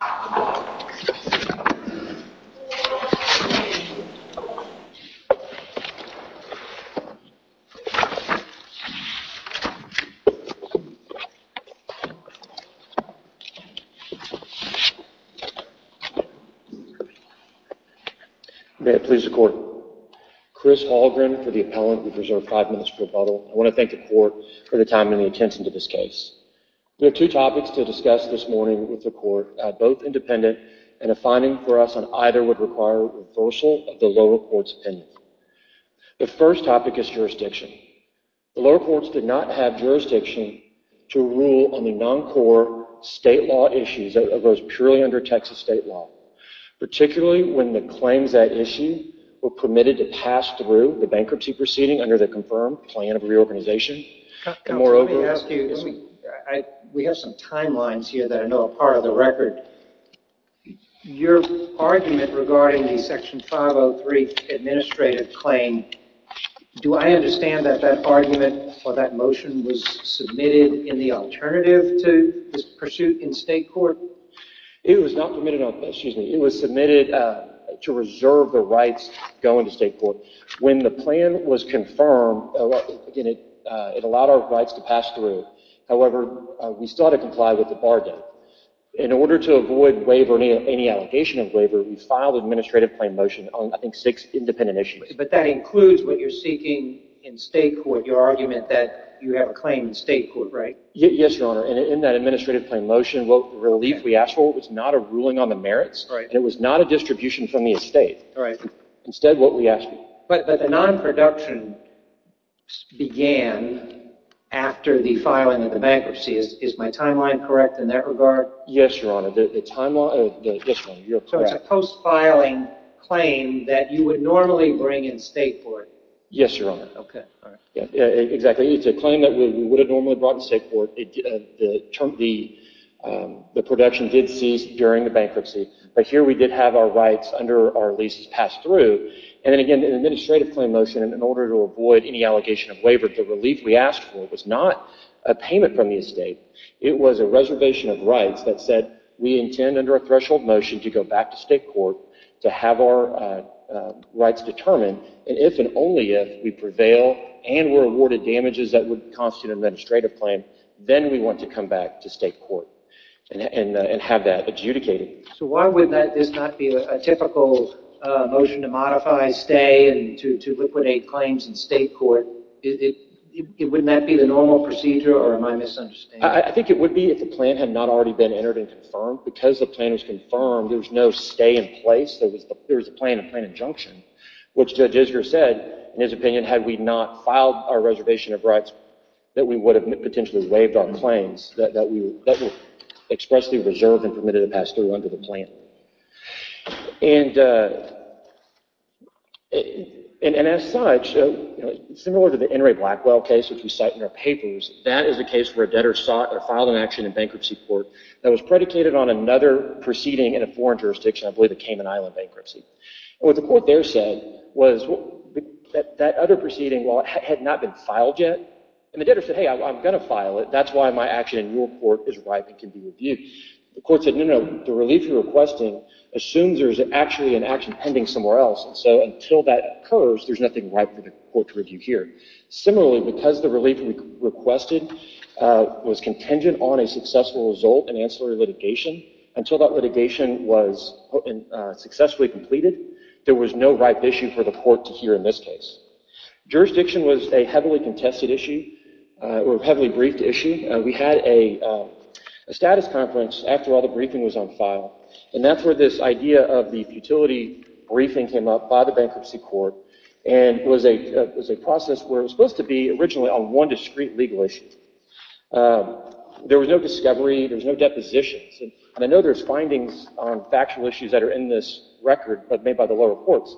May it please the Court, Chris Hallgren for the appellant. We've reserved five minutes for rebuttal. I want to thank the Court for the time and the attention to this case. We and a finding for us on either would require reversal of the lower court's opinion. The first topic is jurisdiction. The lower courts did not have jurisdiction to rule on the non-core state law issues of those purely under Texas state law, particularly when the claims at issue were permitted to pass through the bankruptcy proceeding under the confirmed plan of reorganization. We have some timelines here that I know are part of the record. Your argument regarding the Section 503 administrative claim, do I understand that that argument or that motion was submitted in the alternative to this pursuit in state court? It was submitted to reserve the state court. When the plan was confirmed, it allowed our rights to pass through. However, we still had to comply with the bargain. In order to avoid waiver, any allegation of waiver, we filed an administrative motion on six independent issues. But that includes what you're seeking in state court, your argument that you have a claim in state court, right? Yes, Your Honor. In that administrative motion, the relief we asked for was not a ruling on the non-production. But the non-production began after the filing of the bankruptcy. Is my timeline correct in that regard? Yes, Your Honor. So it's a post-filing claim that you would normally bring in state court? Yes, Your Honor. Exactly. It's a claim that we would have normally brought in state court. The production did cease during the bankruptcy, but here we did have our rights under our lease passed through. And then again, in an administrative motion, in order to avoid any allegation of waiver, the relief we asked for was not a payment from the estate. It was a reservation of rights that said, we intend under a threshold motion to go back to state court to have our rights determined. And if and only if we prevail and we're awarded damages that would constitute an administrative claim, then we want to come back to state court and have that adjudicated. So why would this not be a typical motion to modify, stay, and to liquidate claims in state court? Wouldn't that be the normal procedure, or am I misunderstanding? I think it would be if the plan had not already been entered and confirmed. Because the plan was confirmed, there was no stay in place. There was a plan, a plan of injunction, which Judge Isger said, in his opinion, had we not filed our reservation of rights, that we would have potentially waived our claims, that we would have expressly reserved and permitted a pass-through under the plan. And as such, similar to the N. Ray Blackwell case, which we cite in our papers, that is a case where a debtor filed an action in bankruptcy court that was predicated on another proceeding in a foreign jurisdiction, I believe a Cayman Island bankruptcy. And what the court there said was that that other proceeding, while it had not been filed yet, and the debtor said, hey, I'm going to file it, that's why my action in your court is ripe and can be reviewed. The court said, no, no, the relief you're requesting assumes there's actually an action pending somewhere else. And so until that occurs, there's nothing ripe for the court to review here. Similarly, because the relief requested was contingent on a successful result in ancillary litigation, until that litigation was successfully completed, there was no ripe issue for the court to hear in this case. Jurisdiction was a heavily contested issue, or heavily briefed issue. We had a status conference after all the briefing was on file. And that's where this idea of the futility briefing came up by the bankruptcy court. And it was a process where it was supposed to be originally on one discrete legal issue. There was no discovery, there was no depositions. And I know there's findings on factual issues that are in this record made by the lower courts,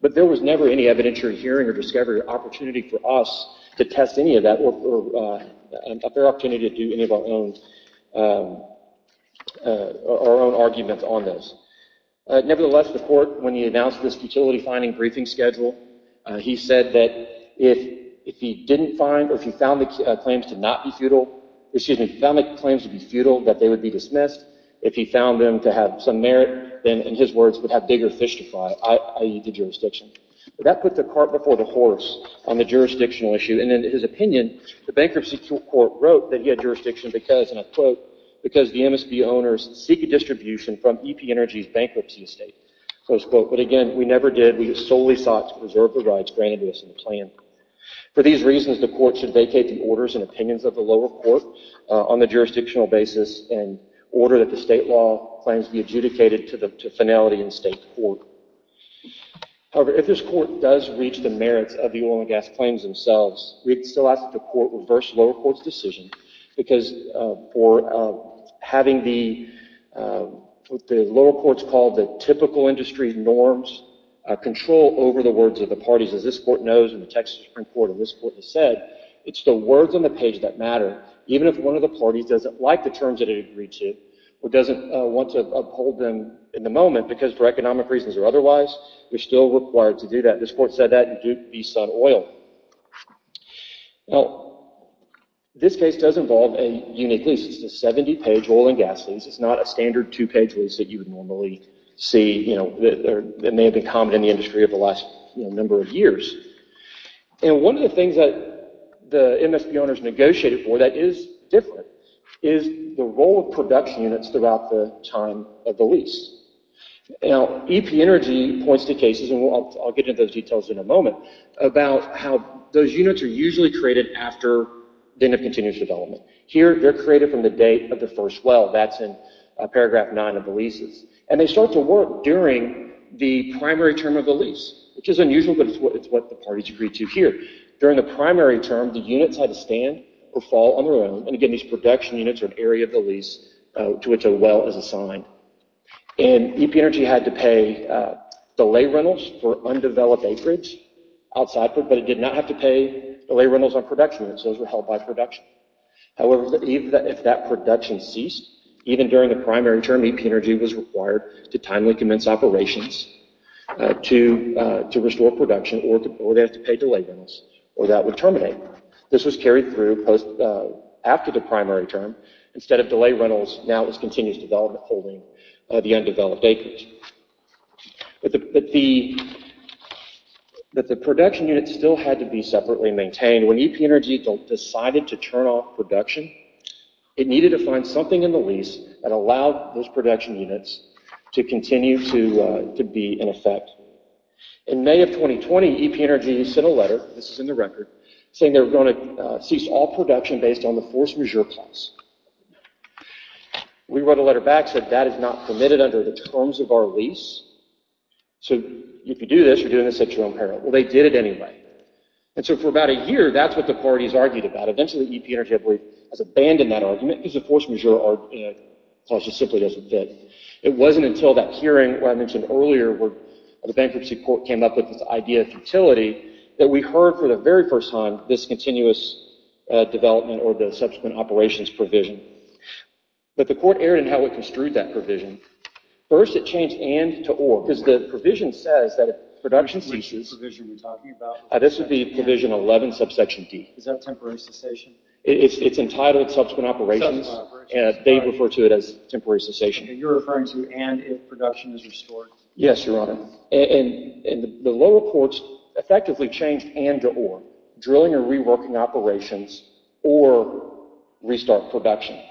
but there was never any evidentiary hearing or discovery opportunity for us to test any of that, or a fair opportunity to do any of our own arguments on this. Nevertheless, the court, when he announced this futility finding briefing schedule, he said that if he didn't find or if he found the claims to be futile, that they would be dismissed. If he found them to have some merit, then in his words, would have bigger fish to fry, i.e. the jurisdiction. That put the cart before the horse on the jurisdictional issue. And in his opinion, the bankruptcy court wrote that he had jurisdiction because, and I quote, because the MSB owners seek a distribution from EP Energy's bankruptcy estate. So I just quote, but again, we never did. We solely sought to preserve the rights granted to us in the plan. For these reasons, the court should vacate the orders and opinions of the lower court on the jurisdictional basis and order that the state law claims be adjudicated to finality in state court. However, if this court does reach the merits of the oil and gas claims themselves, we'd still ask that the court reverse lower court's decision. Because for having the, what the lower courts call the typical industry norms control over the words of the parties, as this court knows, and the Texas Supreme Court, and this court has said, it's the words on the page that matter. Even if one of the parties doesn't like the terms that it agreed to, or doesn't want to uphold them in the moment, because for economic reasons or otherwise, we're still required to do that. This court said that in Duke v. Sun Oil. Now, this case does involve a unique lease. It's a 70-page oil and gas lease. It's not a standard two-page lease that you would normally see, you know, that may have been common in the industry over the last number of years. And one of the things that the MSB owners negotiated for that is different is the role of production units throughout the time of the lease. Now, EP Energy points to cases, and I'll get into those details in a moment, about how those units are usually created after the end of continuous development. Here, they're created from the date of the first well. That's in paragraph 9 of the leases. And they start to work during the primary term of the lease, which is unusual, but it's what the parties agreed to here. During the primary term, the units had to stand or fall on their own. And again, these production units are an area of the lease to which a well is assigned. And EP Energy had to pay delay rentals for undeveloped acreage outside, but it did not have to pay delay rentals on production units. Those were held by production. However, if that production ceased, even during the primary term, EP Energy was required to timely commence operations to restore production, or they have to pay delay rentals, or that would terminate. This was carried through after the primary term. Instead of delay rentals, now it's continuous development holding the undeveloped acreage. But the production units still had to be separately maintained. When EP Energy decided to turn off production, it needed to find something in the lease that allowed those production units to continue to be in effect. In the record, saying they were going to cease all production based on the force majeure clause. We wrote a letter back, said that is not permitted under the terms of our lease. So if you do this, you're doing this at your own peril. Well, they did it anyway. And so for about a year, that's what the parties argued about. Eventually, EP Energy has abandoned that argument because the force majeure clause just simply doesn't fit. It wasn't until that hearing where I mentioned futility that we heard for the very first time this continuous development or the subsequent operations provision. But the court erred in how it construed that provision. First, it changed and to or. Because the provision says that if production ceases, this would be provision 11, subsection D. Is that temporary cessation? It's entitled subsequent operations. They refer to it as temporary cessation. And you're referring to and if production is restored? Yes, Your Honor. And the lower courts effectively changed and to or. Drilling and reworking operations or restart production.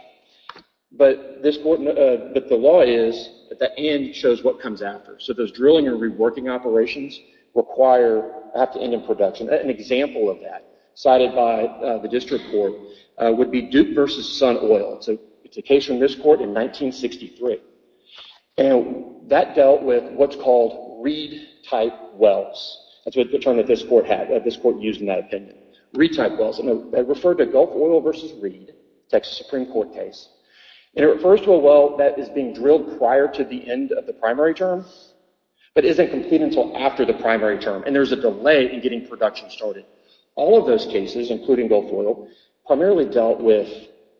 But the law is that the and shows what comes after. So those drilling and reworking operations require, have to end in production. An example of that cited by the district court would be Duke versus Sun Oil. It's a case from this court in 1963. And that dealt with what's called reed-type wells. That's the term that this court used in that opinion. Reed-type wells. And it referred to Gulf Oil versus Reed, Texas Supreme Court case. And it refers to a well that is being drilled prior to the end of the primary term, but isn't complete until after the primary term. And there's a delay in getting production started. All of those cases, including Gulf Oil, primarily dealt with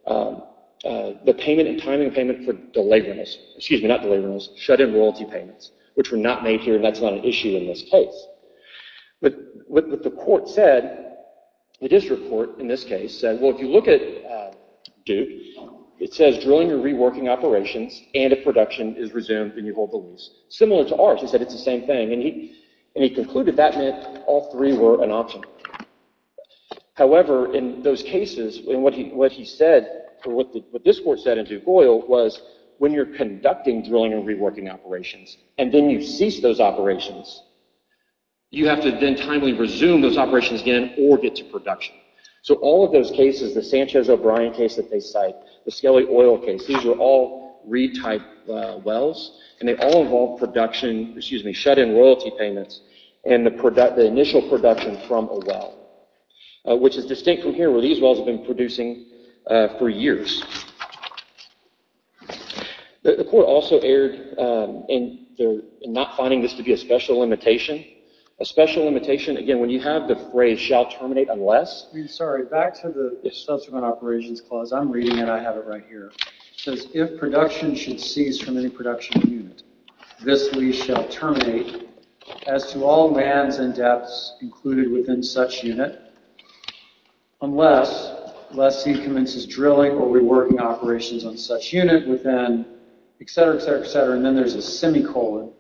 the payment and timing payment for delay rentals. Excuse me, not delay payments. Which were not made here. That's not an issue in this case. But what the court said, the district court in this case said, well, if you look at Duke, it says drilling and reworking operations and if production is resumed, then you hold the lease. Similar to ours. He said, it's the same thing. And he concluded that meant all three were an option. However, in those cases, in what he said, what this court said in Duke Oil was, when you're conducting drilling and reworking operations, and then you cease those operations, you have to then timely resume those operations again or get to production. So all of those cases, the Sanchez O'Brien case that they cite, the Skelly Oil case, these were all Reed-type wells. And they all involved production, excuse me, shut-in royalty payments and the initial production from a well. Which is distinct from here, where these wells have been producing for years. The court also erred in not finding this to be a special limitation. A special limitation, again, when you have the phrase shall terminate unless. I'm sorry, back to the subsequent operations clause. I'm reading and I have it right here. It says, if production should cease from any production unit, this lease shall terminate as to all lands and depths included within such unit unless, lest he commences drilling or reworking operations on such unit within, et cetera, et cetera, et cetera. And then there's a semicolon,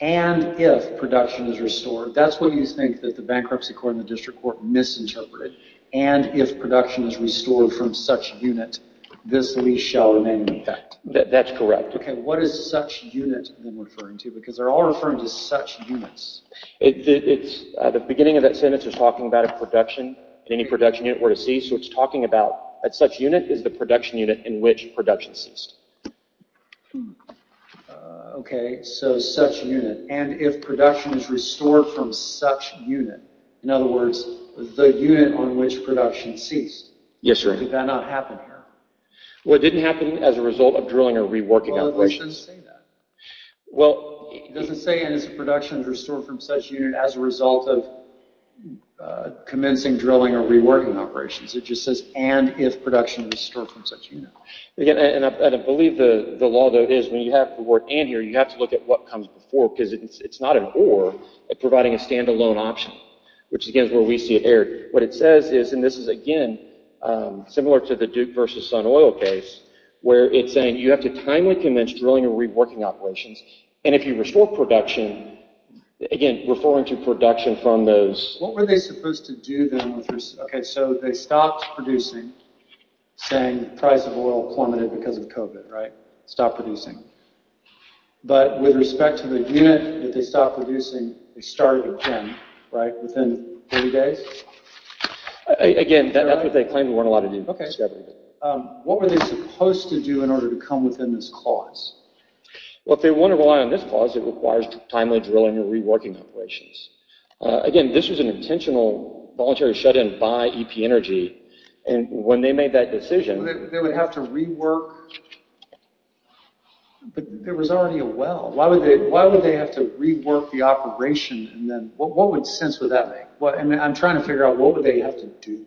and if production is restored. That's what you think that the Bankruptcy Court and the District Court misinterpreted. And if production is restored from such unit, this lease shall remain intact. That's correct. Okay, what is such unit then referring to? Because they're all referring to such units. The beginning of that sentence is talking about a production, any production unit were to cease. So it's talking about, that such unit is the production unit in which production ceased. Okay, so such unit. And if production is restored from such unit. In other words, the unit on which production ceased. Yes sir. Did that not happen here? Well, it didn't happen as a result of drilling or reworking operations. Well, it doesn't say that. Well, it doesn't say, and if production is restored from such unit, as a result of commencing drilling or reworking operations. It just says, and if production is restored from such unit. Again, and I believe the law though is, when you have the word and here, you have to look at what comes before, because it's not an or, it's providing a standalone option, which again is error. What it says is, and this is again, similar to the Duke versus Sun Oil case, where it's saying you have to timely commence drilling or reworking operations. And if you restore production, again, referring to production from those. What were they supposed to do then? Okay, so they stopped producing, saying price of oil plummeted because of COVID, right? Stopped producing. But with respect to the unit that they stopped producing, they started again, right? Within 30 days? Again, that's what they claimed. There weren't a lot of new discovery there. What were they supposed to do in order to come within this clause? Well, if they want to rely on this clause, it requires timely drilling or reworking operations. Again, this was an intentional voluntary shut-in by EP Energy. And when they made that decision- They would have to rework. But there was already a well. Why would they have to rework the operation? And then what would sense would that make? I'm trying to figure out what would they have to do?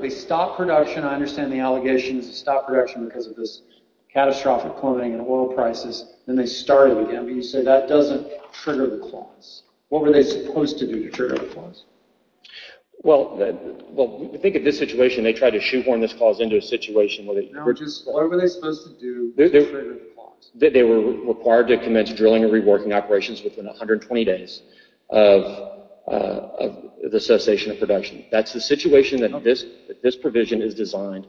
They stopped production. I understand the allegations. They stopped production because of this catastrophic plummeting in oil prices. Then they started again. But you said that doesn't trigger the clause. What were they supposed to do to trigger the clause? Well, think of this situation. They tried to shoehorn this clause into a situation where they- No, just what were they supposed to do to trigger the clause? They were required to commence drilling and reworking operations within 120 days of the cessation of production. That's the situation that this provision is designed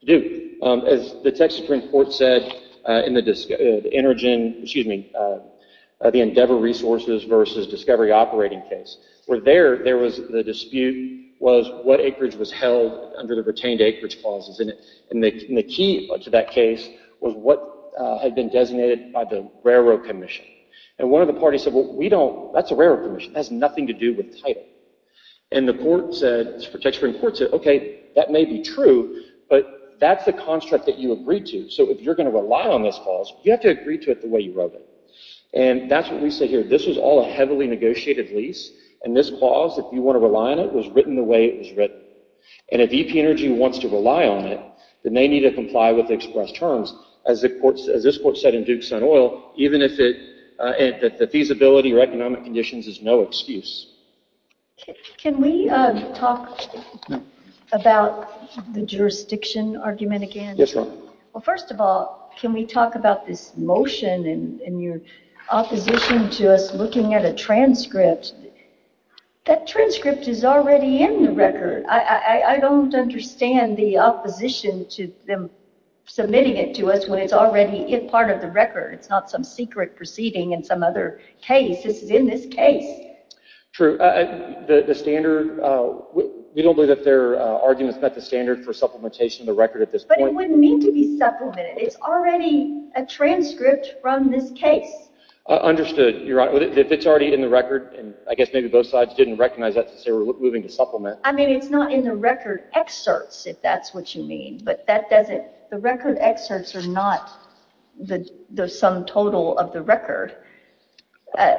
to do. As the Texas Supreme Court said in the Endeavor Resources versus Discovery Operating case, where there was the dispute was what acreage was held under the retained acreage clauses. And the key to that case was what had been designated by the railroad commission. And one of the parties said, that's a railroad commission. That has nothing to do with title. And the Texas Supreme Court said, okay, that may be true, but that's the construct that you agreed to. So if you're going to rely on this clause, you have to agree to it the way you wrote it. And that's what we say here. This was all a heavily negotiated lease. And this clause, if you want to rely on it, was written the way it was written. And if EP Energy wants to rely on it, then they need to comply with the express terms, as this court said in Duke-Sun Oil, even if the feasibility or economic conditions is no excuse. Can we talk about the jurisdiction argument again? Yes, ma'am. Well, first of all, can we talk about this motion and your opposition to us looking at a transcript? That transcript is already in the record. I don't understand the opposition to them submitting it to us when it's already part of the record. It's not some secret proceeding in some other case. This is in this case. True. The standard, we don't believe that their arguments met the standard for supplementation of the record at this point. It wouldn't need to be supplemented. It's already a transcript from this case. Understood, Your Honor. If it's already in the record, and I guess maybe both sides didn't recognize that to say we're moving to supplement. I mean, it's not in the record excerpts, if that's what you mean. But that doesn't, the record excerpts are not the sum total of the record. Why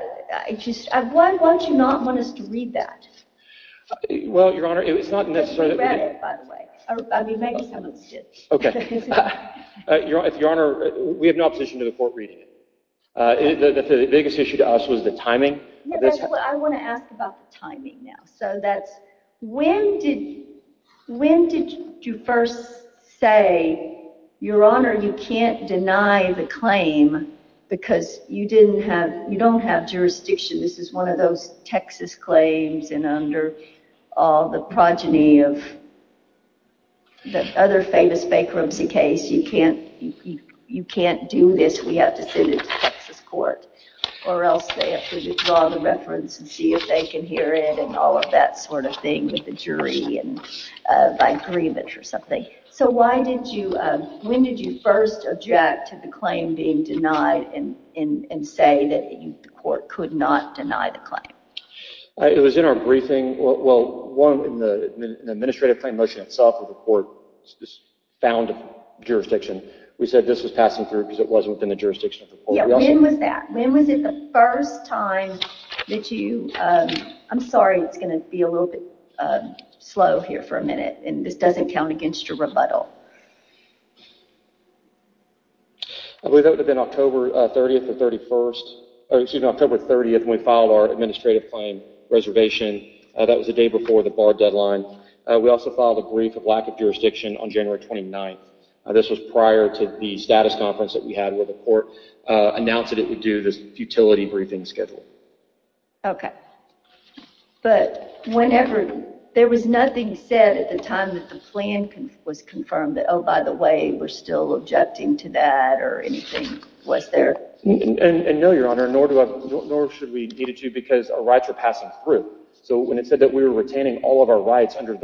don't you not want us to read that? Well, Your Honor, it's not necessarily that we do. We read it, by the way. I mean, maybe someone did. Okay. Your Honor, we have no opposition to the court reading it. The biggest issue to us was the timing. I want to ask about the timing now. So that's, when did you first say, Your Honor, you can't deny the claim because you don't have jurisdiction. This is one of those Texas claims, and under all the progeny of the other famous bankruptcy case, you can't do this. We have to send it to Texas court, or else they have to withdraw the reference and see if they can hear it, and all of that sort of thing with the jury and by grievance or something. So why did you, when did you first object to the claim being denied and say that the court could not deny the claim? It was in our briefing. Well, one, in the administrative motion itself of the court, this found jurisdiction. We said this was passing through because it wasn't within the jurisdiction of the court. When was that? When was it the first time that you, I'm sorry, it's going to be a little bit slow here for a minute, and this doesn't count against your rebuttal. I believe that would have been October 30th or 31st, or excuse me, October 30th when we filed our administrative claim reservation. That was the day before the bar deadline. We also filed a brief of lack of jurisdiction on January 29th. This was prior to the status conference that we had where the court announced that it would do this futility briefing schedule. Okay. But whenever, there was nothing said at the time that the plan was confirmed. That, oh, by the way, we're still objecting to that or anything was there? No, Your Honor, nor should we need it to because our rights are passing through. So when it said that we were retaining all of our rights under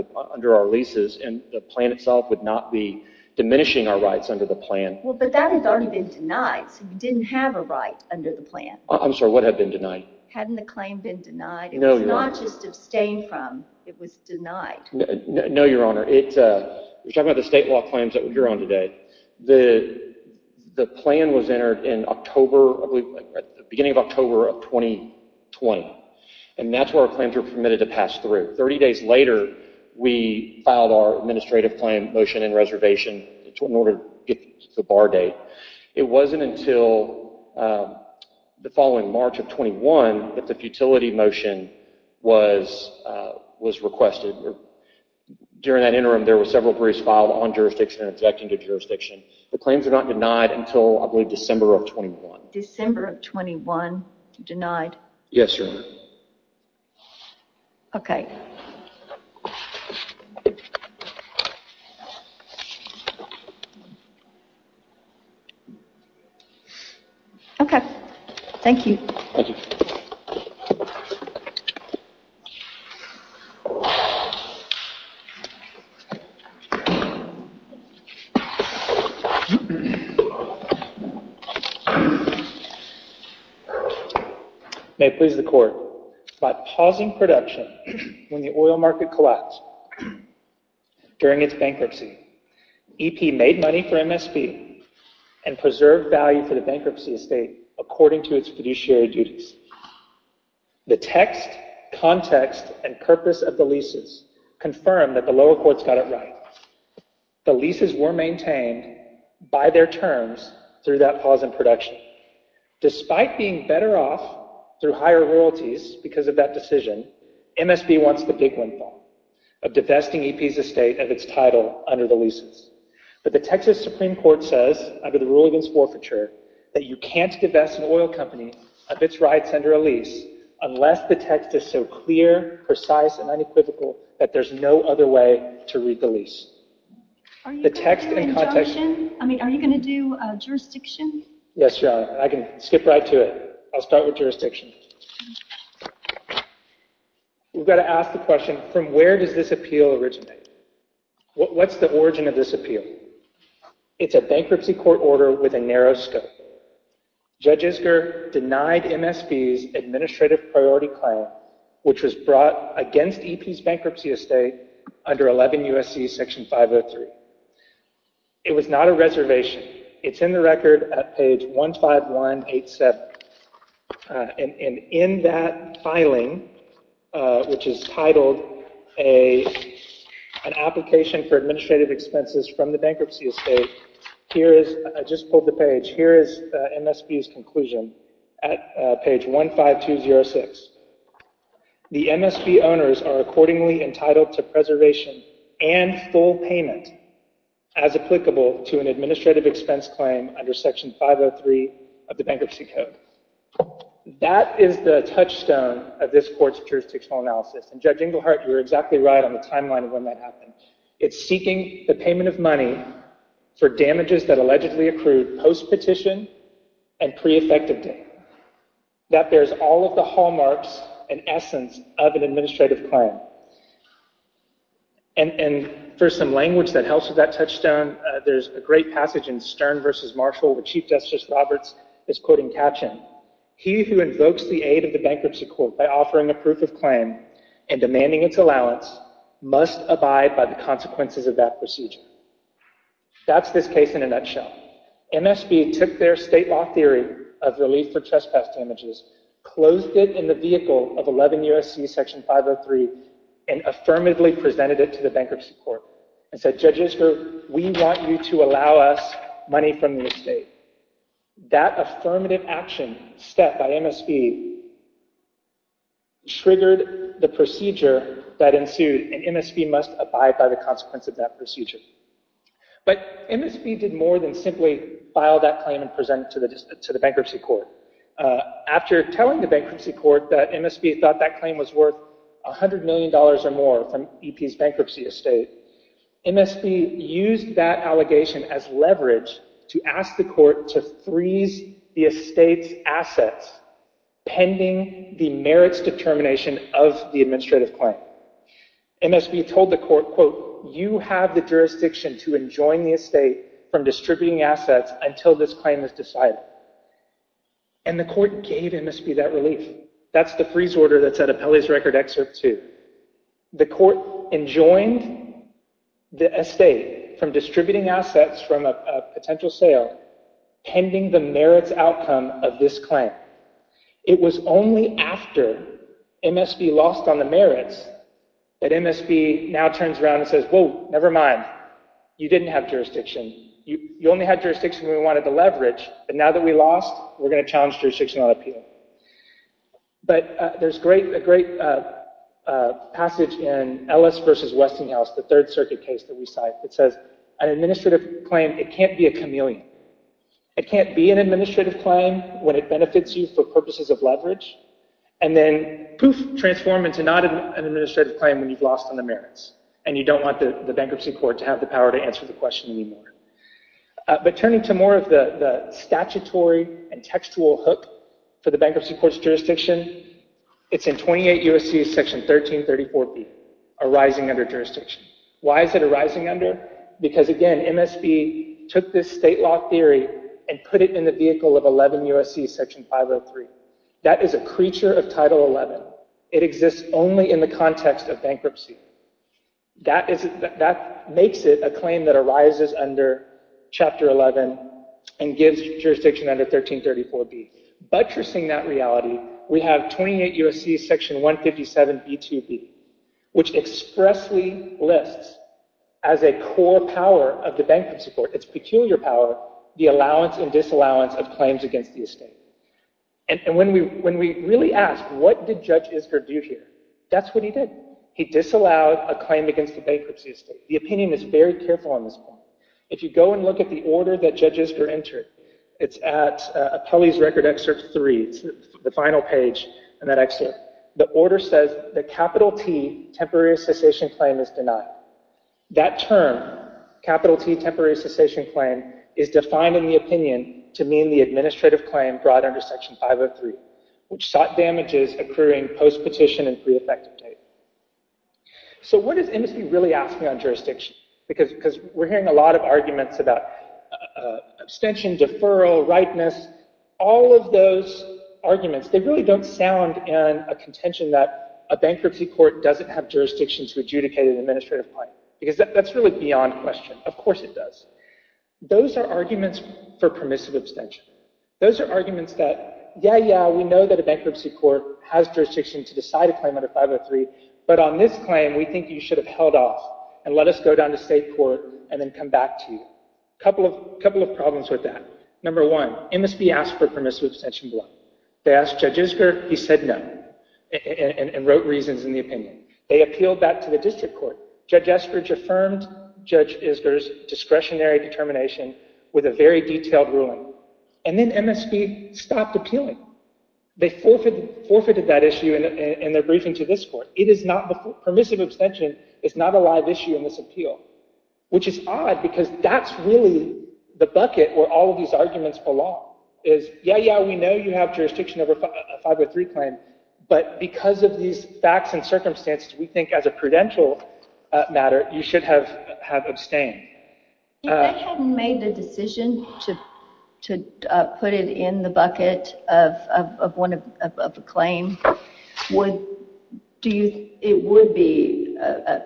our leases and the plan itself would not be diminishing our rights under the plan. Well, but that has already been denied. So you didn't have a right under the plan. I'm sorry, what had been denied? Hadn't the claim been denied? It was not just abstained from, it was denied. No, Your Honor. We're talking about the state law claims that you're on today. The plan was entered in October, beginning of October of 2020. And that's where our claims were permitted to pass through. 30 days later, we filed our administrative claim motion and reservation in order to get the bar date. It wasn't until the following March of 21 that the futility motion was requested. During that interim, there were several briefs filed on jurisdiction and objecting to jurisdiction. The claims are not denied until, I believe, December of 21. December of 21, denied? Yes, Your Honor. Okay. Okay. Thank you. Thank you. May it please the Court, by pausing production when the oil market collapsed during its bankruptcy, EP made money for MSP and preserved value for the bankruptcy estate according to its context and purpose of the leases, confirmed that the lower courts got it right. The leases were maintained by their terms through that pause in production. Despite being better off through higher royalties because of that decision, MSP wants the big windfall of divesting EP's estate of its title under the leases. But the Texas Supreme Court says, under the rule against forfeiture, that you can't divest an oil company of its rights under a lease unless the text is so clear, precise, and unequivocal that there's no other way to read the lease. Are you going to do injunction? I mean, are you going to do jurisdiction? Yes, Your Honor. I can skip right to it. I'll start with jurisdiction. We've got to ask the question, from where does this appeal originate? What's the origin of this appeal? It's a bankruptcy court order with a narrow scope. Judge Isker denied MSP's administrative priority claim, which was brought against EP's bankruptcy estate under 11 U.S.C. section 503. It was not a reservation. It's in the record at page 15187. And in that filing, which is titled An Application for Administrative Expenses from the Bankruptcy Estate, here is, I just pulled the page, here is MSP's conclusion at page 15206. The MSP owners are accordingly entitled to preservation and full payment as applicable to an administrative expense claim under section 503 of the Bankruptcy Code. That is the touchstone of this court's jurisdictional analysis. And Judge Engelhardt, you're exactly right on the timeline of when that happened. It's seeking the payment of money for damages that allegedly accrued post-petition and pre-effective date. That bears all of the hallmarks and essence of an administrative claim. And for some language that helps with that touchstone, there's a great passage in Stern v. Marshall, where Chief Justice Roberts is quoting Katchen. He who invokes the aid of the bankruptcy court by offering a proof of claim and demanding its allowance must abide by the consequences of that procedure. That's this case in a nutshell. MSP took their state law theory of relief for trespass damages, closed it in the vehicle of 11 U.S.C. section 503, and affirmatively presented it to the bankruptcy court and said, judges, we want you to allow us money from the estate. That affirmative action step by MSP triggered the procedure that ensued, and MSP must abide by the consequence of that procedure. But MSP did more than simply file that claim and present it to the bankruptcy court. After telling the bankruptcy court that MSP thought that claim was worth $100 million or more from EP's bankruptcy estate, MSP used that allegation as leverage to ask the court to freeze the estate's assets pending the merits determination of the administrative claim. MSP told the court, quote, you have the jurisdiction to enjoin the estate from distributing assets until this claim is decided. And the court gave MSP that relief. That's the freeze order that's at Appellee's Record Excerpt 2. The court enjoined the estate from distributing assets from a potential sale pending the merits outcome of this claim. It was only after MSP lost on the merits that MSP now turns around and says, whoa, never mind. You didn't have jurisdiction. You only had jurisdiction we wanted to leverage, but now that we lost, we're going to challenge jurisdiction on appeal. But there's a great passage in Ellis v. Westinghouse, the Third Circuit case that we cite that says, an administrative claim, it can't be a chameleon. It can't be an administrative claim when it for purposes of leverage. And then, poof, transform into not an administrative claim when you've lost on the merits. And you don't want the bankruptcy court to have the power to answer the question anymore. But turning to more of the statutory and textual hook for the bankruptcy court's jurisdiction, it's in 28 U.S.C. Section 1334B, arising under jurisdiction. Why is it arising under? Because, again, MSP took this state law theory and put it in the vehicle of 11 U.S.C. Section 503. That is a creature of Title XI. It exists only in the context of bankruptcy. That makes it a claim that arises under Chapter 11 and gives jurisdiction under 1334B. Buttressing that reality, we have 28 U.S.C. Section 157B2B, which expressly lists as a core power of the bankruptcy court, its peculiar power, the allowance and disallowance of claims against the estate. And when we really ask, what did Judge Isker do here? That's what he did. He disallowed a claim against the bankruptcy estate. The opinion is very careful on this point. If you go and look at the order that Judge Isker entered, it's at Appellee's Record Excerpt 3, the final page in that excerpt. The order says that capital T temporary cessation claim is denied. That term, capital T temporary cessation claim, is defined in the opinion to mean the administrative claim brought under Section 503, which sought damages accruing post-petition and pre-effective date. So what is MSB really asking on jurisdiction? Because we're hearing a lot of arguments about abstention, deferral, ripeness, all of those arguments. They really don't sound in a contention that a bankruptcy court doesn't have jurisdiction to adjudicate an administrative claim. Because that's really beyond question. Of course it does. Those are arguments for permissive abstention. Those are arguments that, yeah, yeah, we know that a bankruptcy court has jurisdiction to decide a claim under 503. But on this claim, we think you should have held off and let us go down to state court and then come back to you. A couple of problems with that. Number one, MSB asked for permissive abstention below. They asked Judge Isker. He said no and wrote reasons in the opinion. They appealed that to the district court. Judge Eskridge affirmed Judge Isker's discretionary termination with a very detailed ruling. And then MSB stopped appealing. They forfeited that issue in their briefing to this court. Permissive abstention is not a live issue in this appeal. Which is odd because that's really the bucket where all of these arguments belong. Is, yeah, yeah, we know you have jurisdiction over a 503 claim. But because of these facts and circumstances, we think as a prudential matter, you should have abstained. If they hadn't made the decision to put it in the bucket of a claim, it would be a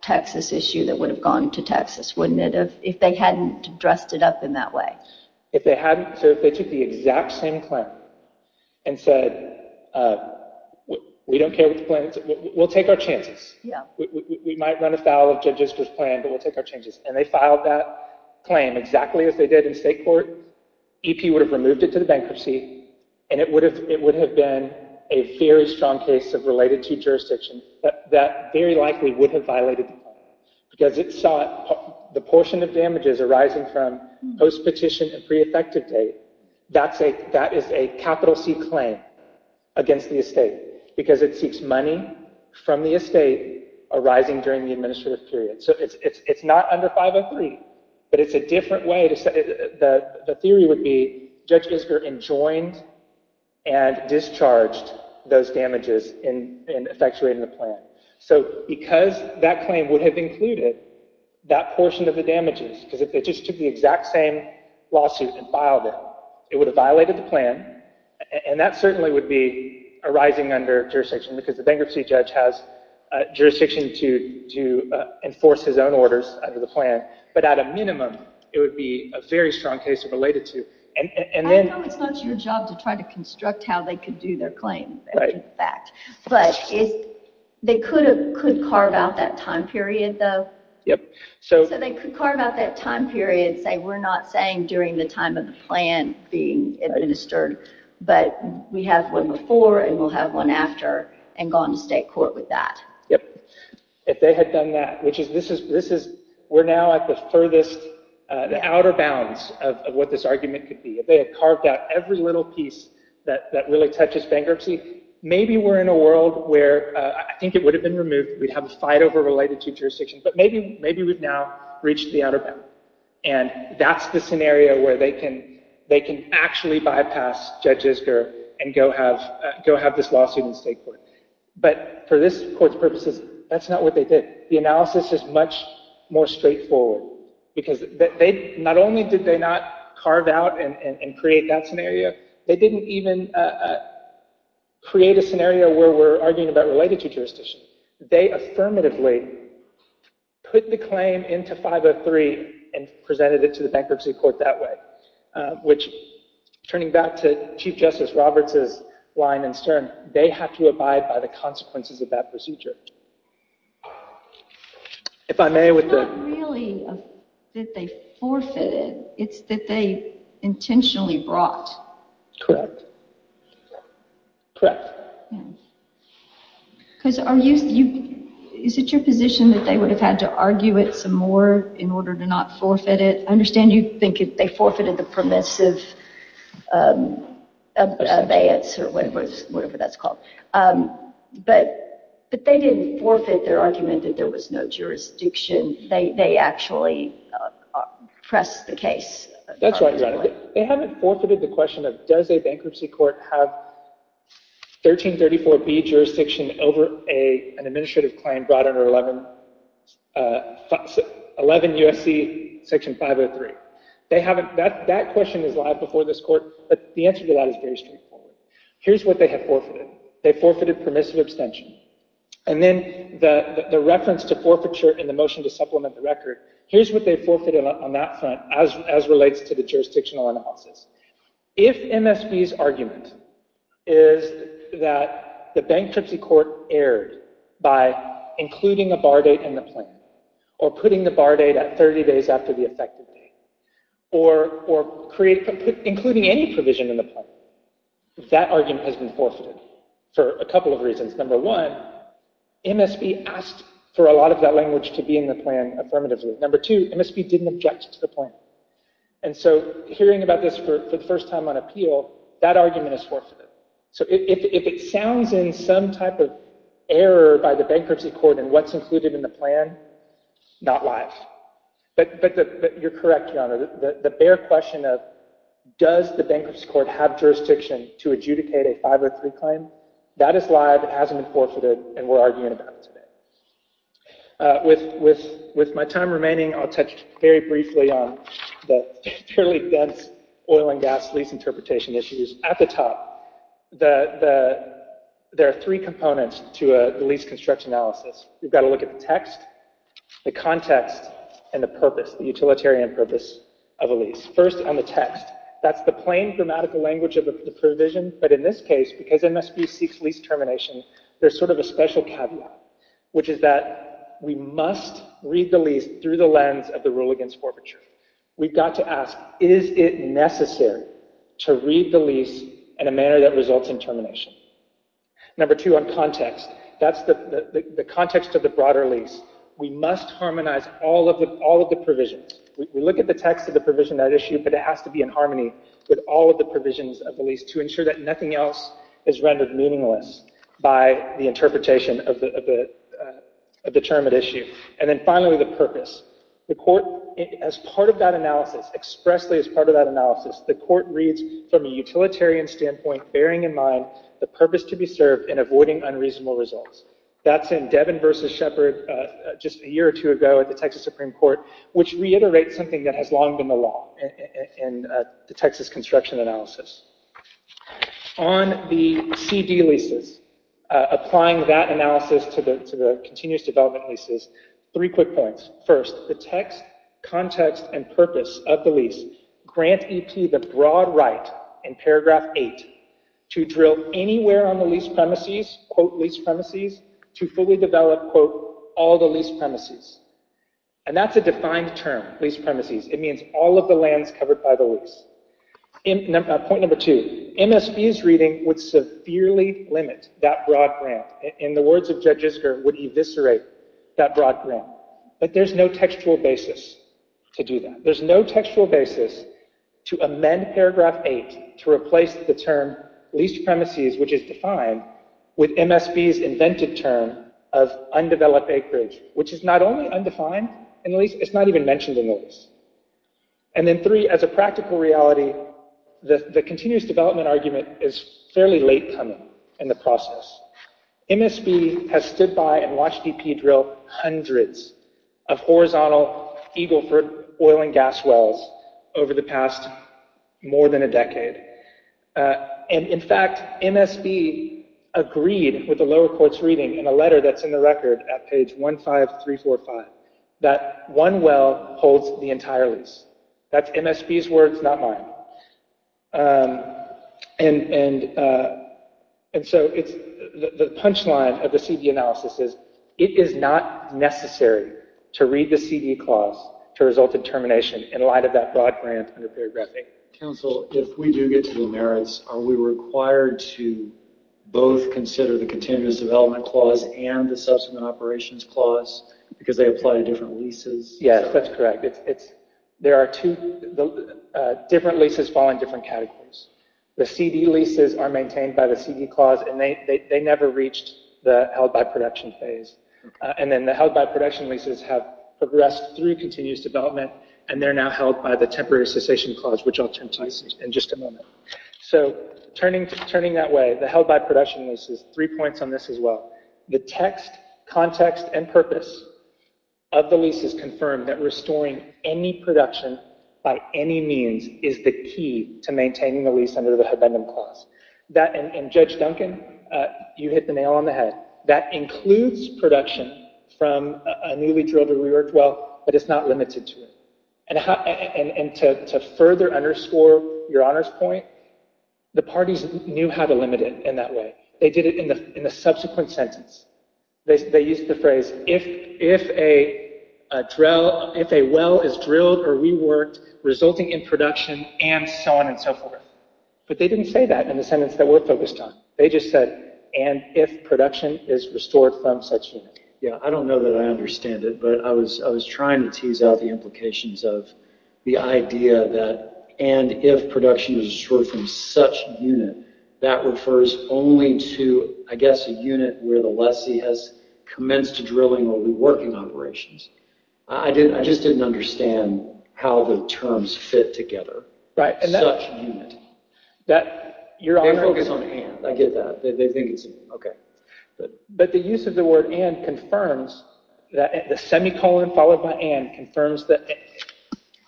Texas issue that would have gone to Texas, wouldn't it, if they hadn't dressed it up in that way? If they hadn't, so if they took the exact same claim and said, we don't care what the plan is, we'll take our chances. We might run afoul of Judge Isker's plan, but we'll take our changes. And they filed that claim exactly as they did in state court. EP would have removed it to the bankruptcy and it would have been a very strong case of related to jurisdiction that very likely would have violated the plan. Because it saw the portion of damages arising from post-petition and pre-effective date, that is a capital C claim against the estate. Because it seeks money from the estate arising during the administrative period. So it's not under 503, but it's a different way. The theory would be Judge Isker enjoined and discharged those damages in effectuating the plan. So because that claim would have included that portion of the damages, because if they just took the exact same lawsuit and filed it, it would have violated the plan. And that certainly would be arising under jurisdiction because the bankruptcy judge has jurisdiction to enforce his own orders under the plan. But at a minimum, it would be a very strong case of related to. I know it's not your job to try to construct how they could do their claim, that's a fact. But they could carve out that time period though? Yep. So they could carve out that time period and say, we're not saying during the time of the plan being administered, but we have one before and we'll have one after and gone to state court with that. Yep. If they had done that, which is, we're now at the furthest, the outer bounds of what this argument could be. If they had carved out every little piece that really touches bankruptcy, maybe we're in a world where I think it would have been removed, we'd have a fight over related to jurisdiction, but maybe we've now reached the outer bound. And that's the scenario where they can actually bypass Judge Isger and go have this lawsuit in state court. But for this court's purposes, that's not what they did. The analysis is much more straightforward, because not only did they not carve out and create that scenario, they didn't even create a scenario where we're arguing about related to jurisdiction. They affirmatively put the claim into 503 and presented it to the bankruptcy court that way. Which, turning back to Chief Justice Roberts' line in Stern, they have to abide by the consequences of that procedure. If I may with the... It's not really that they forfeited, it's that they intentionally brought. Correct. Correct. Because are you... Is it your position that they would have had to argue it some more in order to not forfeit it? I understand you think they forfeited the permissive abeyance or whatever that's called. But they didn't forfeit their argument that there was no jurisdiction. They actually pressed the case. That's right, Your Honor. They haven't forfeited the question of does a bankruptcy court have 1334B jurisdiction over an administrative claim brought under 11 U.S.C. Section 503. That question is live before this court, but the answer to that is very straightforward. Here's what they have forfeited. They forfeited in the motion to supplement the record. Here's what they forfeited on that front as relates to the jurisdictional analysis. If MSB's argument is that the bankruptcy court erred by including a bar date in the plan or putting the bar date at 30 days after the effective date or including any provision in the plan, that argument has been forfeited for a couple of reasons. Number one, MSB asked for a lot of that language to be in the plan affirmatively. Number two, MSB didn't object to the plan. And so hearing about this for the first time on appeal, that argument is forfeited. So if it sounds in some type of error by the bankruptcy court in what's included in the plan, not live. But you're correct, Your Honor. The bare question of does the bankruptcy court have jurisdiction to adjudicate a 503 claim, that is live. It hasn't forfeited and we're arguing about it today. With my time remaining, I'll touch very briefly on the fairly dense oil and gas lease interpretation issues. At the top, there are three components to a lease construction analysis. You've got to look at the text, the context, and the purpose, the utilitarian purpose of a lease. First on the text. That's the plain grammatical language of the provision. But in this case, because MSB seeks lease termination, there's sort of a special caveat, which is that we must read the lease through the lens of the rule against forfeiture. We've got to ask, is it necessary to read the lease in a manner that results in termination? Number two on context. That's the context of the broader lease. We must harmonize all of the provisions. We look at the text of the provision that issue, but it has to be in harmony with all of the provisions of the lease to ensure that nothing else is rendered meaningless by the interpretation of the determined issue. And then finally, the purpose. The court, as part of that analysis, expressly as part of that analysis, the court reads from a utilitarian standpoint, bearing in mind the purpose to be served and avoiding unreasonable results. That's in Devon versus Shepard just a year or two ago at the Texas Supreme Court, which reiterates something that has long been the law in the Texas construction analysis. On the CD leases, applying that analysis to the continuous development leases, three quick points. First, the text, context, and purpose of the lease grant EP the broad right in paragraph eight to drill anywhere on the lease premises, quote lease premises, to fully develop, quote, all the lease premises. And that's a defined term, lease premises. It means all of the lands covered by the point. Number two, MSPs reading would severely limit that broad grant. In the words of judges, her would eviscerate that broad grant, but there's no textual basis to do that. There's no textual basis to amend paragraph eight to replace the term lease premises, which is defined with MSPs invented term of undeveloped acreage, which is not only undefined and at least it's not even mentioned in the lease. And then three, as a practical reality, the continuous development argument is fairly late coming in the process. MSB has stood by and watched EP drill hundreds of horizontal Eagleford oil and gas wells over the past more than a decade. And in fact, MSB agreed with the lower court's reading in a letter that's in the record at page 15345 that one well holds the entire lease. That's MSB's words, not mine. And so it's the punchline of the CD analysis is it is not necessary to read the CD clause to result in termination in light of that broad grant under paragraph eight. Counsel, if we do get to the merits, are we required to both consider the continuous development clause and the subsequent operations clause because they apply to different leases? Yes, that's correct. There are two different leases fall in different categories. The CD leases are maintained by the CD clause and they never reached the held by production phase. And then the held by production leases have progressed through continuous development and they're now held by the temporary cessation clause, which I'll turn to in just a moment. So turning that way, the held by production leases, three points on this as well. The text, context, and purpose of the lease is confirmed that restoring any production by any means is the key to maintaining the lease under the habendum clause. And Judge Duncan, you hit the nail on the head. That includes production from a newly drilled or reworked well, but it's not limited to it. And to further underscore your honor's point, the parties knew how to limit it in that way. They did it in the subsequent sentence. They used the phrase, if a well is drilled or reworked resulting in production and so on and so forth. But they didn't say that in the sentence that we're focused on. They just said, and if production is restored from such unit. Yeah, I don't know that I understand it, but I was trying to tease out the implications of the idea that, and if production was restored from such unit, that refers only to, I guess, a unit where the lessee has commenced drilling or reworking operations. I just didn't understand how the terms fit together. Such unit. They focus on and, I get that. They think it's, okay. But the use of the word and confirms that the semicolon followed by and confirms that.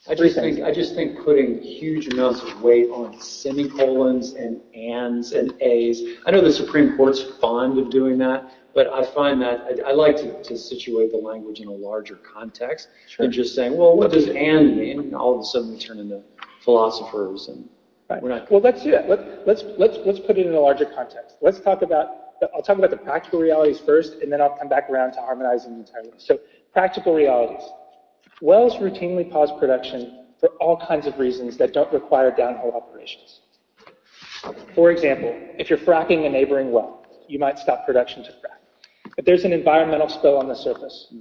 I just think putting huge amounts of weight on semicolons and ands and ays. I know the Supreme Court's fond of doing that, but I find that, I like to situate the language in a larger context and just saying, well, what does and mean? All of a sudden we turn into philosophers and we're not. Let's do that. Let's put it in a larger context. Let's talk about, I'll talk about the practical realities first, and then I'll come back around to harmonizing entirely. Practical realities. Wells routinely pause production for all kinds of reasons that don't require downhole operations. For example, if you're fracking a neighboring well, you might stop production to frack. But there's an environmental spill on the surface.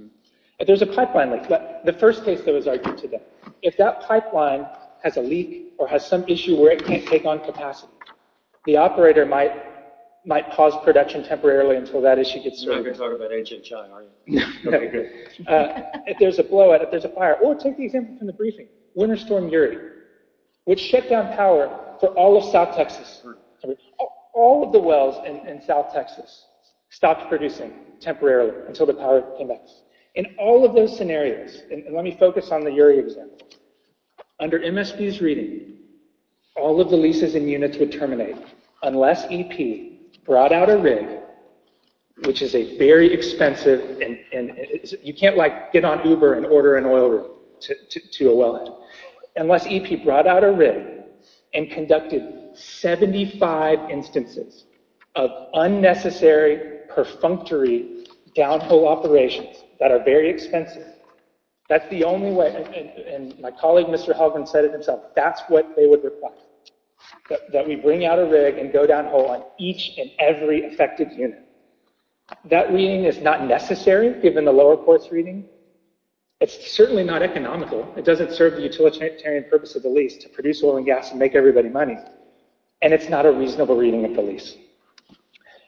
There's a pipeline leak. The first case that was If that pipeline has a leak or has some issue where it can't take on capacity, the operator might might pause production temporarily until that issue gets through. You're not going to talk about ancient China, are you? If there's a blowout, if there's a fire, or take the example from the briefing, winter storm Uri, which shut down power for all of South Texas. All of the wells in South Texas stopped producing temporarily until the power came back. In all of those scenarios, and let focus on the Uri example. Under MSB's reading, all of the leases and units would terminate unless EP brought out a rig, which is a very expensive, and you can't like get on Uber and order an oil rig to a wellhead, unless EP brought out a rig and conducted 75 instances of unnecessary perfunctory downhole operations that are very expensive. That's the only way, and my colleague Mr. Halgren said it himself, that's what they would require. That we bring out a rig and go downhole on each and every affected unit. That reading is not necessary given the lower course reading. It's certainly not economical. It doesn't serve the utilitarian purpose of the lease to produce oil and gas and make everybody money. And it's not a reasonable reading of the lease.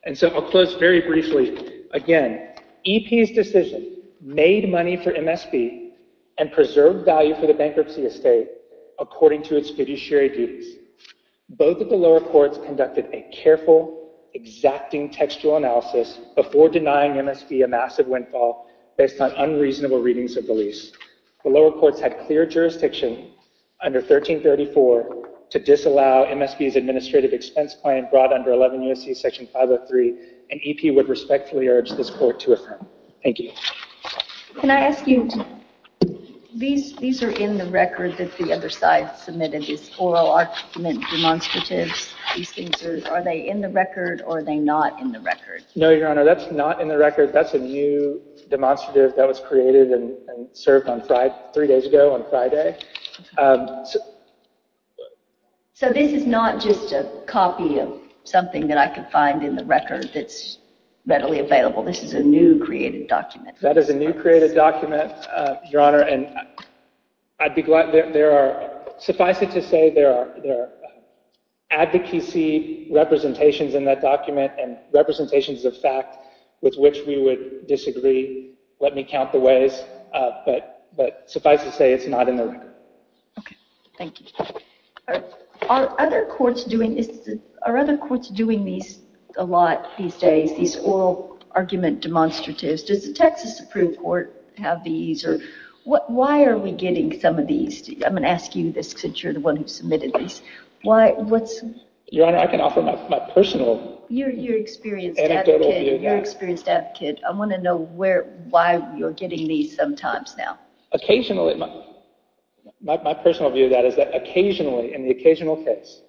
And so I'll close very briefly. Again, EP's decision made money for MSB and preserved value for the bankruptcy estate according to its fiduciary duties. Both of the lower courts conducted a careful, exacting textual analysis before denying MSB a massive windfall based on unreasonable readings of the lease. The lower courts had clear jurisdiction under 1334 to disallow MSB's administrative expense plan brought under 11 U.S.C. Section 503, and EP would respectfully urge this court to affirm. Thank you. Can I ask you, these are in the record that the other side submitted, these oral argument demonstratives. Are they in the record or are they not in the record? No, Your Honor, that's not in the record. That's a new demonstrative that was created and served three days ago on Friday. So this is not just a copy of something that I could find in the record that's readily available. This is a new created document. That is a new created document, Your Honor. And I'd be glad, there are, suffice it to say, there are advocacy representations in that document and representations of fact with which we would disagree. Let me count the ways. But suffice it to say, it's not in the record. Okay. Thank you. Are other courts doing these a lot these days, these oral argument demonstratives? Does the Texas approved court have these? Why are we getting some of these? I'm going to ask you this because you're the one who submitted these. Your Honor, I can offer my personal You're an experienced advocate. I want to know why you're getting these sometimes now. Occasionally. My personal view of that is that occasionally, in the occasional case,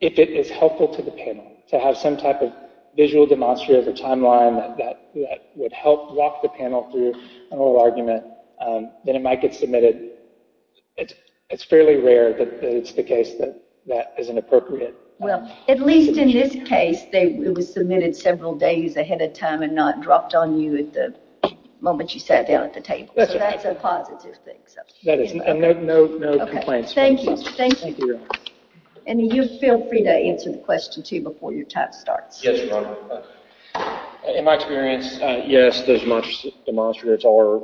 if it is helpful to the panel to have some type of visual demonstrative or timeline that would help walk the panel through an oral argument, then it might get submitted. It's fairly rare that it's the case that that is inappropriate. Well, at least in this case, it was submitted several days ahead of time and not dropped on you at the moment you sat down at the table. So that's a positive thing. No complaints. Thank you. And you feel free to answer the question too before your time starts. Yes, Your Honor. In my experience, yes, demonstrators are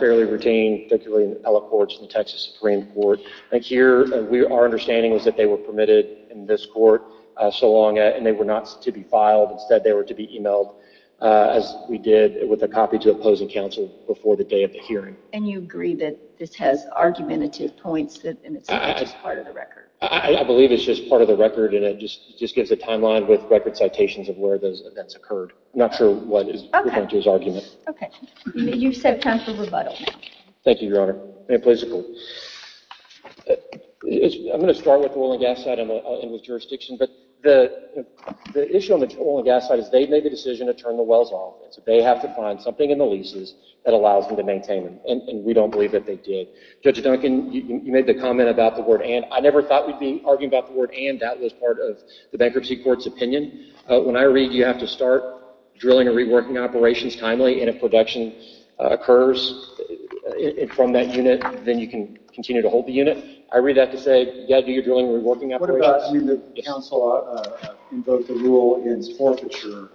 fairly routine, particularly in appellate courts and the Texas Supreme Court. Like here, our understanding was that they were permitted in this court so long and they were not to be filed. Instead, they were to be emailed as we did with a copy to opposing counsel before the day of the hearing. And you agree that this has argumentative points and it's just part of the timeline with record citations of where those events occurred. I'm not sure what is referring to as argument. Okay. You said time for rebuttal. Thank you, Your Honor. I'm going to start with the oil and gas side and with jurisdiction. But the issue on the oil and gas side is they made the decision to turn the wells off. So they have to find something in the leases that allows them to maintain them. And we don't believe that they did. Judge Duncan, you made the comment about the word and. I never thought we'd be arguing about the word and that as part of the bankruptcy court's opinion. When I read you have to start drilling and reworking operations timely and if production occurs from that unit, then you can continue to hold the unit. I read that to say, yeah, do your drilling and reworking operations. What about when the counsel invoked the rule against forfeiture,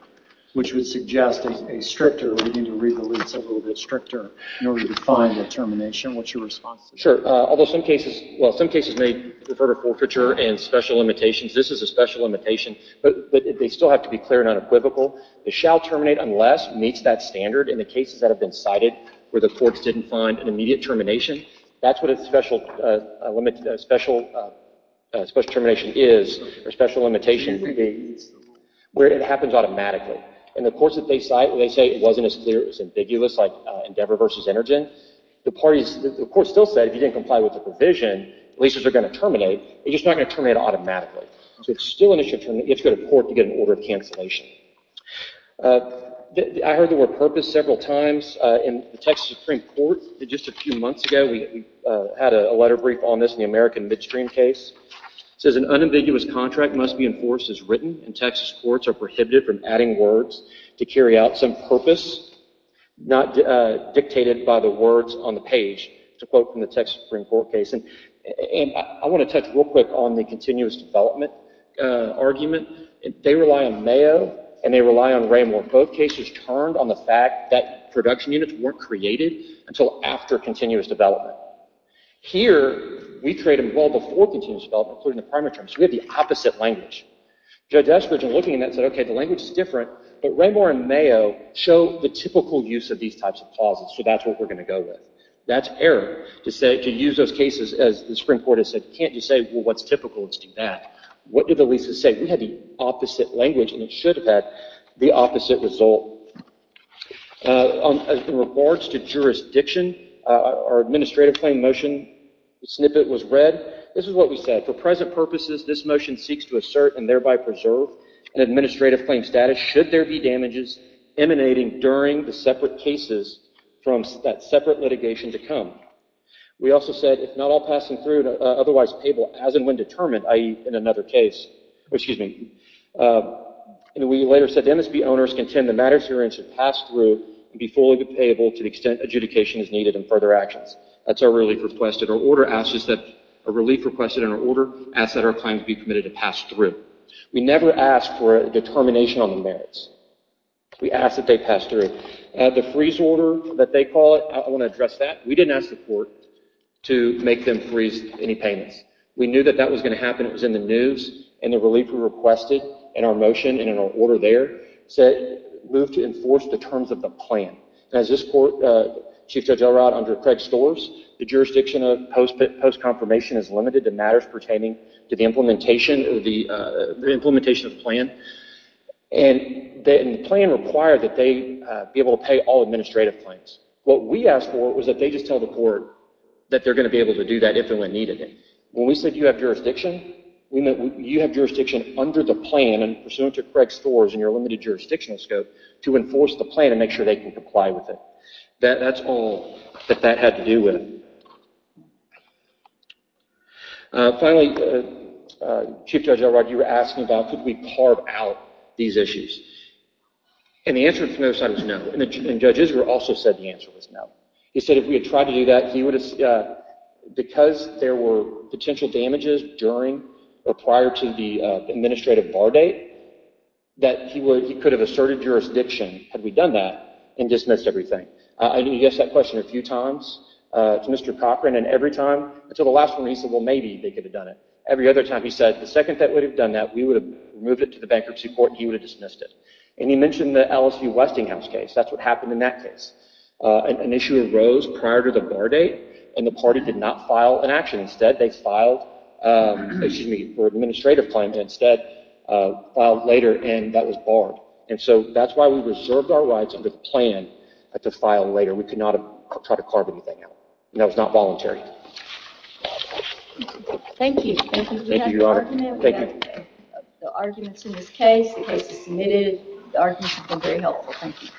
which would suggest a stricter reading to read the lease a little bit stricter in order to find a termination. What's your response to that? Sure. Although some cases may refer to forfeiture and special limitations. This is a special limitation, but they still have to be clear and unequivocal. They shall terminate unless meets that standard in the cases that have been cited where the courts didn't find an immediate termination. That's what a special termination is, or special limitation, where it happens automatically. And the courts that they cite, they say it wasn't as clear, it was ambiguous like Endeavor versus Energen. The court still said if you didn't comply with the provision, leases are going to terminate. It's just not going to terminate automatically. So it's still an issue. You have to go to court to get an order of cancellation. I heard the word purpose several times. In the Texas Supreme Court, just a few months ago, we had a letter brief on this in the American Midstream case. It says an unambiguous contract must be enforced as written and Texas courts are prohibited from adding words to carry out some purpose not dictated by the words on the page. It's a quote from the Texas Supreme Court case. And I want to touch real quick on the continuous development argument. They rely on Mayo, and they rely on Ramor. Both cases turned on the fact that production units weren't created until after continuous development. Here, we create them well before continuous development, including the primary terms. We have the opposite language. Judge Eskridge, in looking at that, said, OK, the language is different. But Ramor and Mayo show the typical use of these types of clauses. So that's what we're going to go with. That's error to use those cases, as the Supreme Court has said. Can't you say, well, what's typical? Let's do that. What did the leases say? We had the opposite language, and it should have had the opposite result. In regards to jurisdiction, our administrative claim motion snippet was read. This is what we said. For present purposes, this motion seeks to assert and thereby preserve an administrative claim status, should there be damages emanating during the separate cases from that separate litigation to come. We also said, if not all passing through, otherwise payable, as and when determined, i.e., in another case. Excuse me. And we later said, MSB owners contend the matters herein should pass through and be fully payable to the extent adjudication is needed in further actions. That's our relief request, and our order asks that our claim be committed to pass through. We never ask for a determination on the merits. We ask that they pass through. The freeze order that they call it, I want to address that. We didn't ask the court to make them freeze any payments. We knew that that was going to happen. It was in the news, and the relief we requested in our motion and in our order there moved to enforce the terms of the plan. As this court, Chief Judge Elrod, under Craig Storrs, the jurisdiction of post-confirmation is limited to matters pertaining to the implementation of the plan, and the plan required that they be able to pay all administrative claims. What we asked for was that they just tell the court that they're going to be able to do that if and when needed. When we said, you have jurisdiction, we meant you have jurisdiction under the plan and pursuant to Craig Storrs and your limited jurisdictional scope to enforce the plan and make sure they comply with it. That's all that that had to do with it. Finally, Chief Judge Elrod, you were asking about could we carve out these issues, and the answer from the other side was no, and Judge Israel also said the answer was no. He said if we had tried to do that, because there were potential damages during or prior to the administrative bar date, that he could have asserted jurisdiction had we done that and dismissed everything. He asked that question a few times to Mr. Cochran, and every time until the last one, he said, well, maybe they could have done it. Every other time, he said the second that we would have done that, we would have moved it to the bankruptcy court, and he would have dismissed it. He mentioned the LSU Westinghouse case. That's what happened in that case. An issue arose prior to the bar date, and the party did not file an action. Instead, they filed for administrative claims. Instead, they filed later, and that was barred, and so that's why we reserved our rights under the plan to file later. We could not have tried to carve anything out, and that was not voluntary. Thank you. Thank you. We have the arguments in this case. The case is submitted. The arguments have been very helpful. Thank you.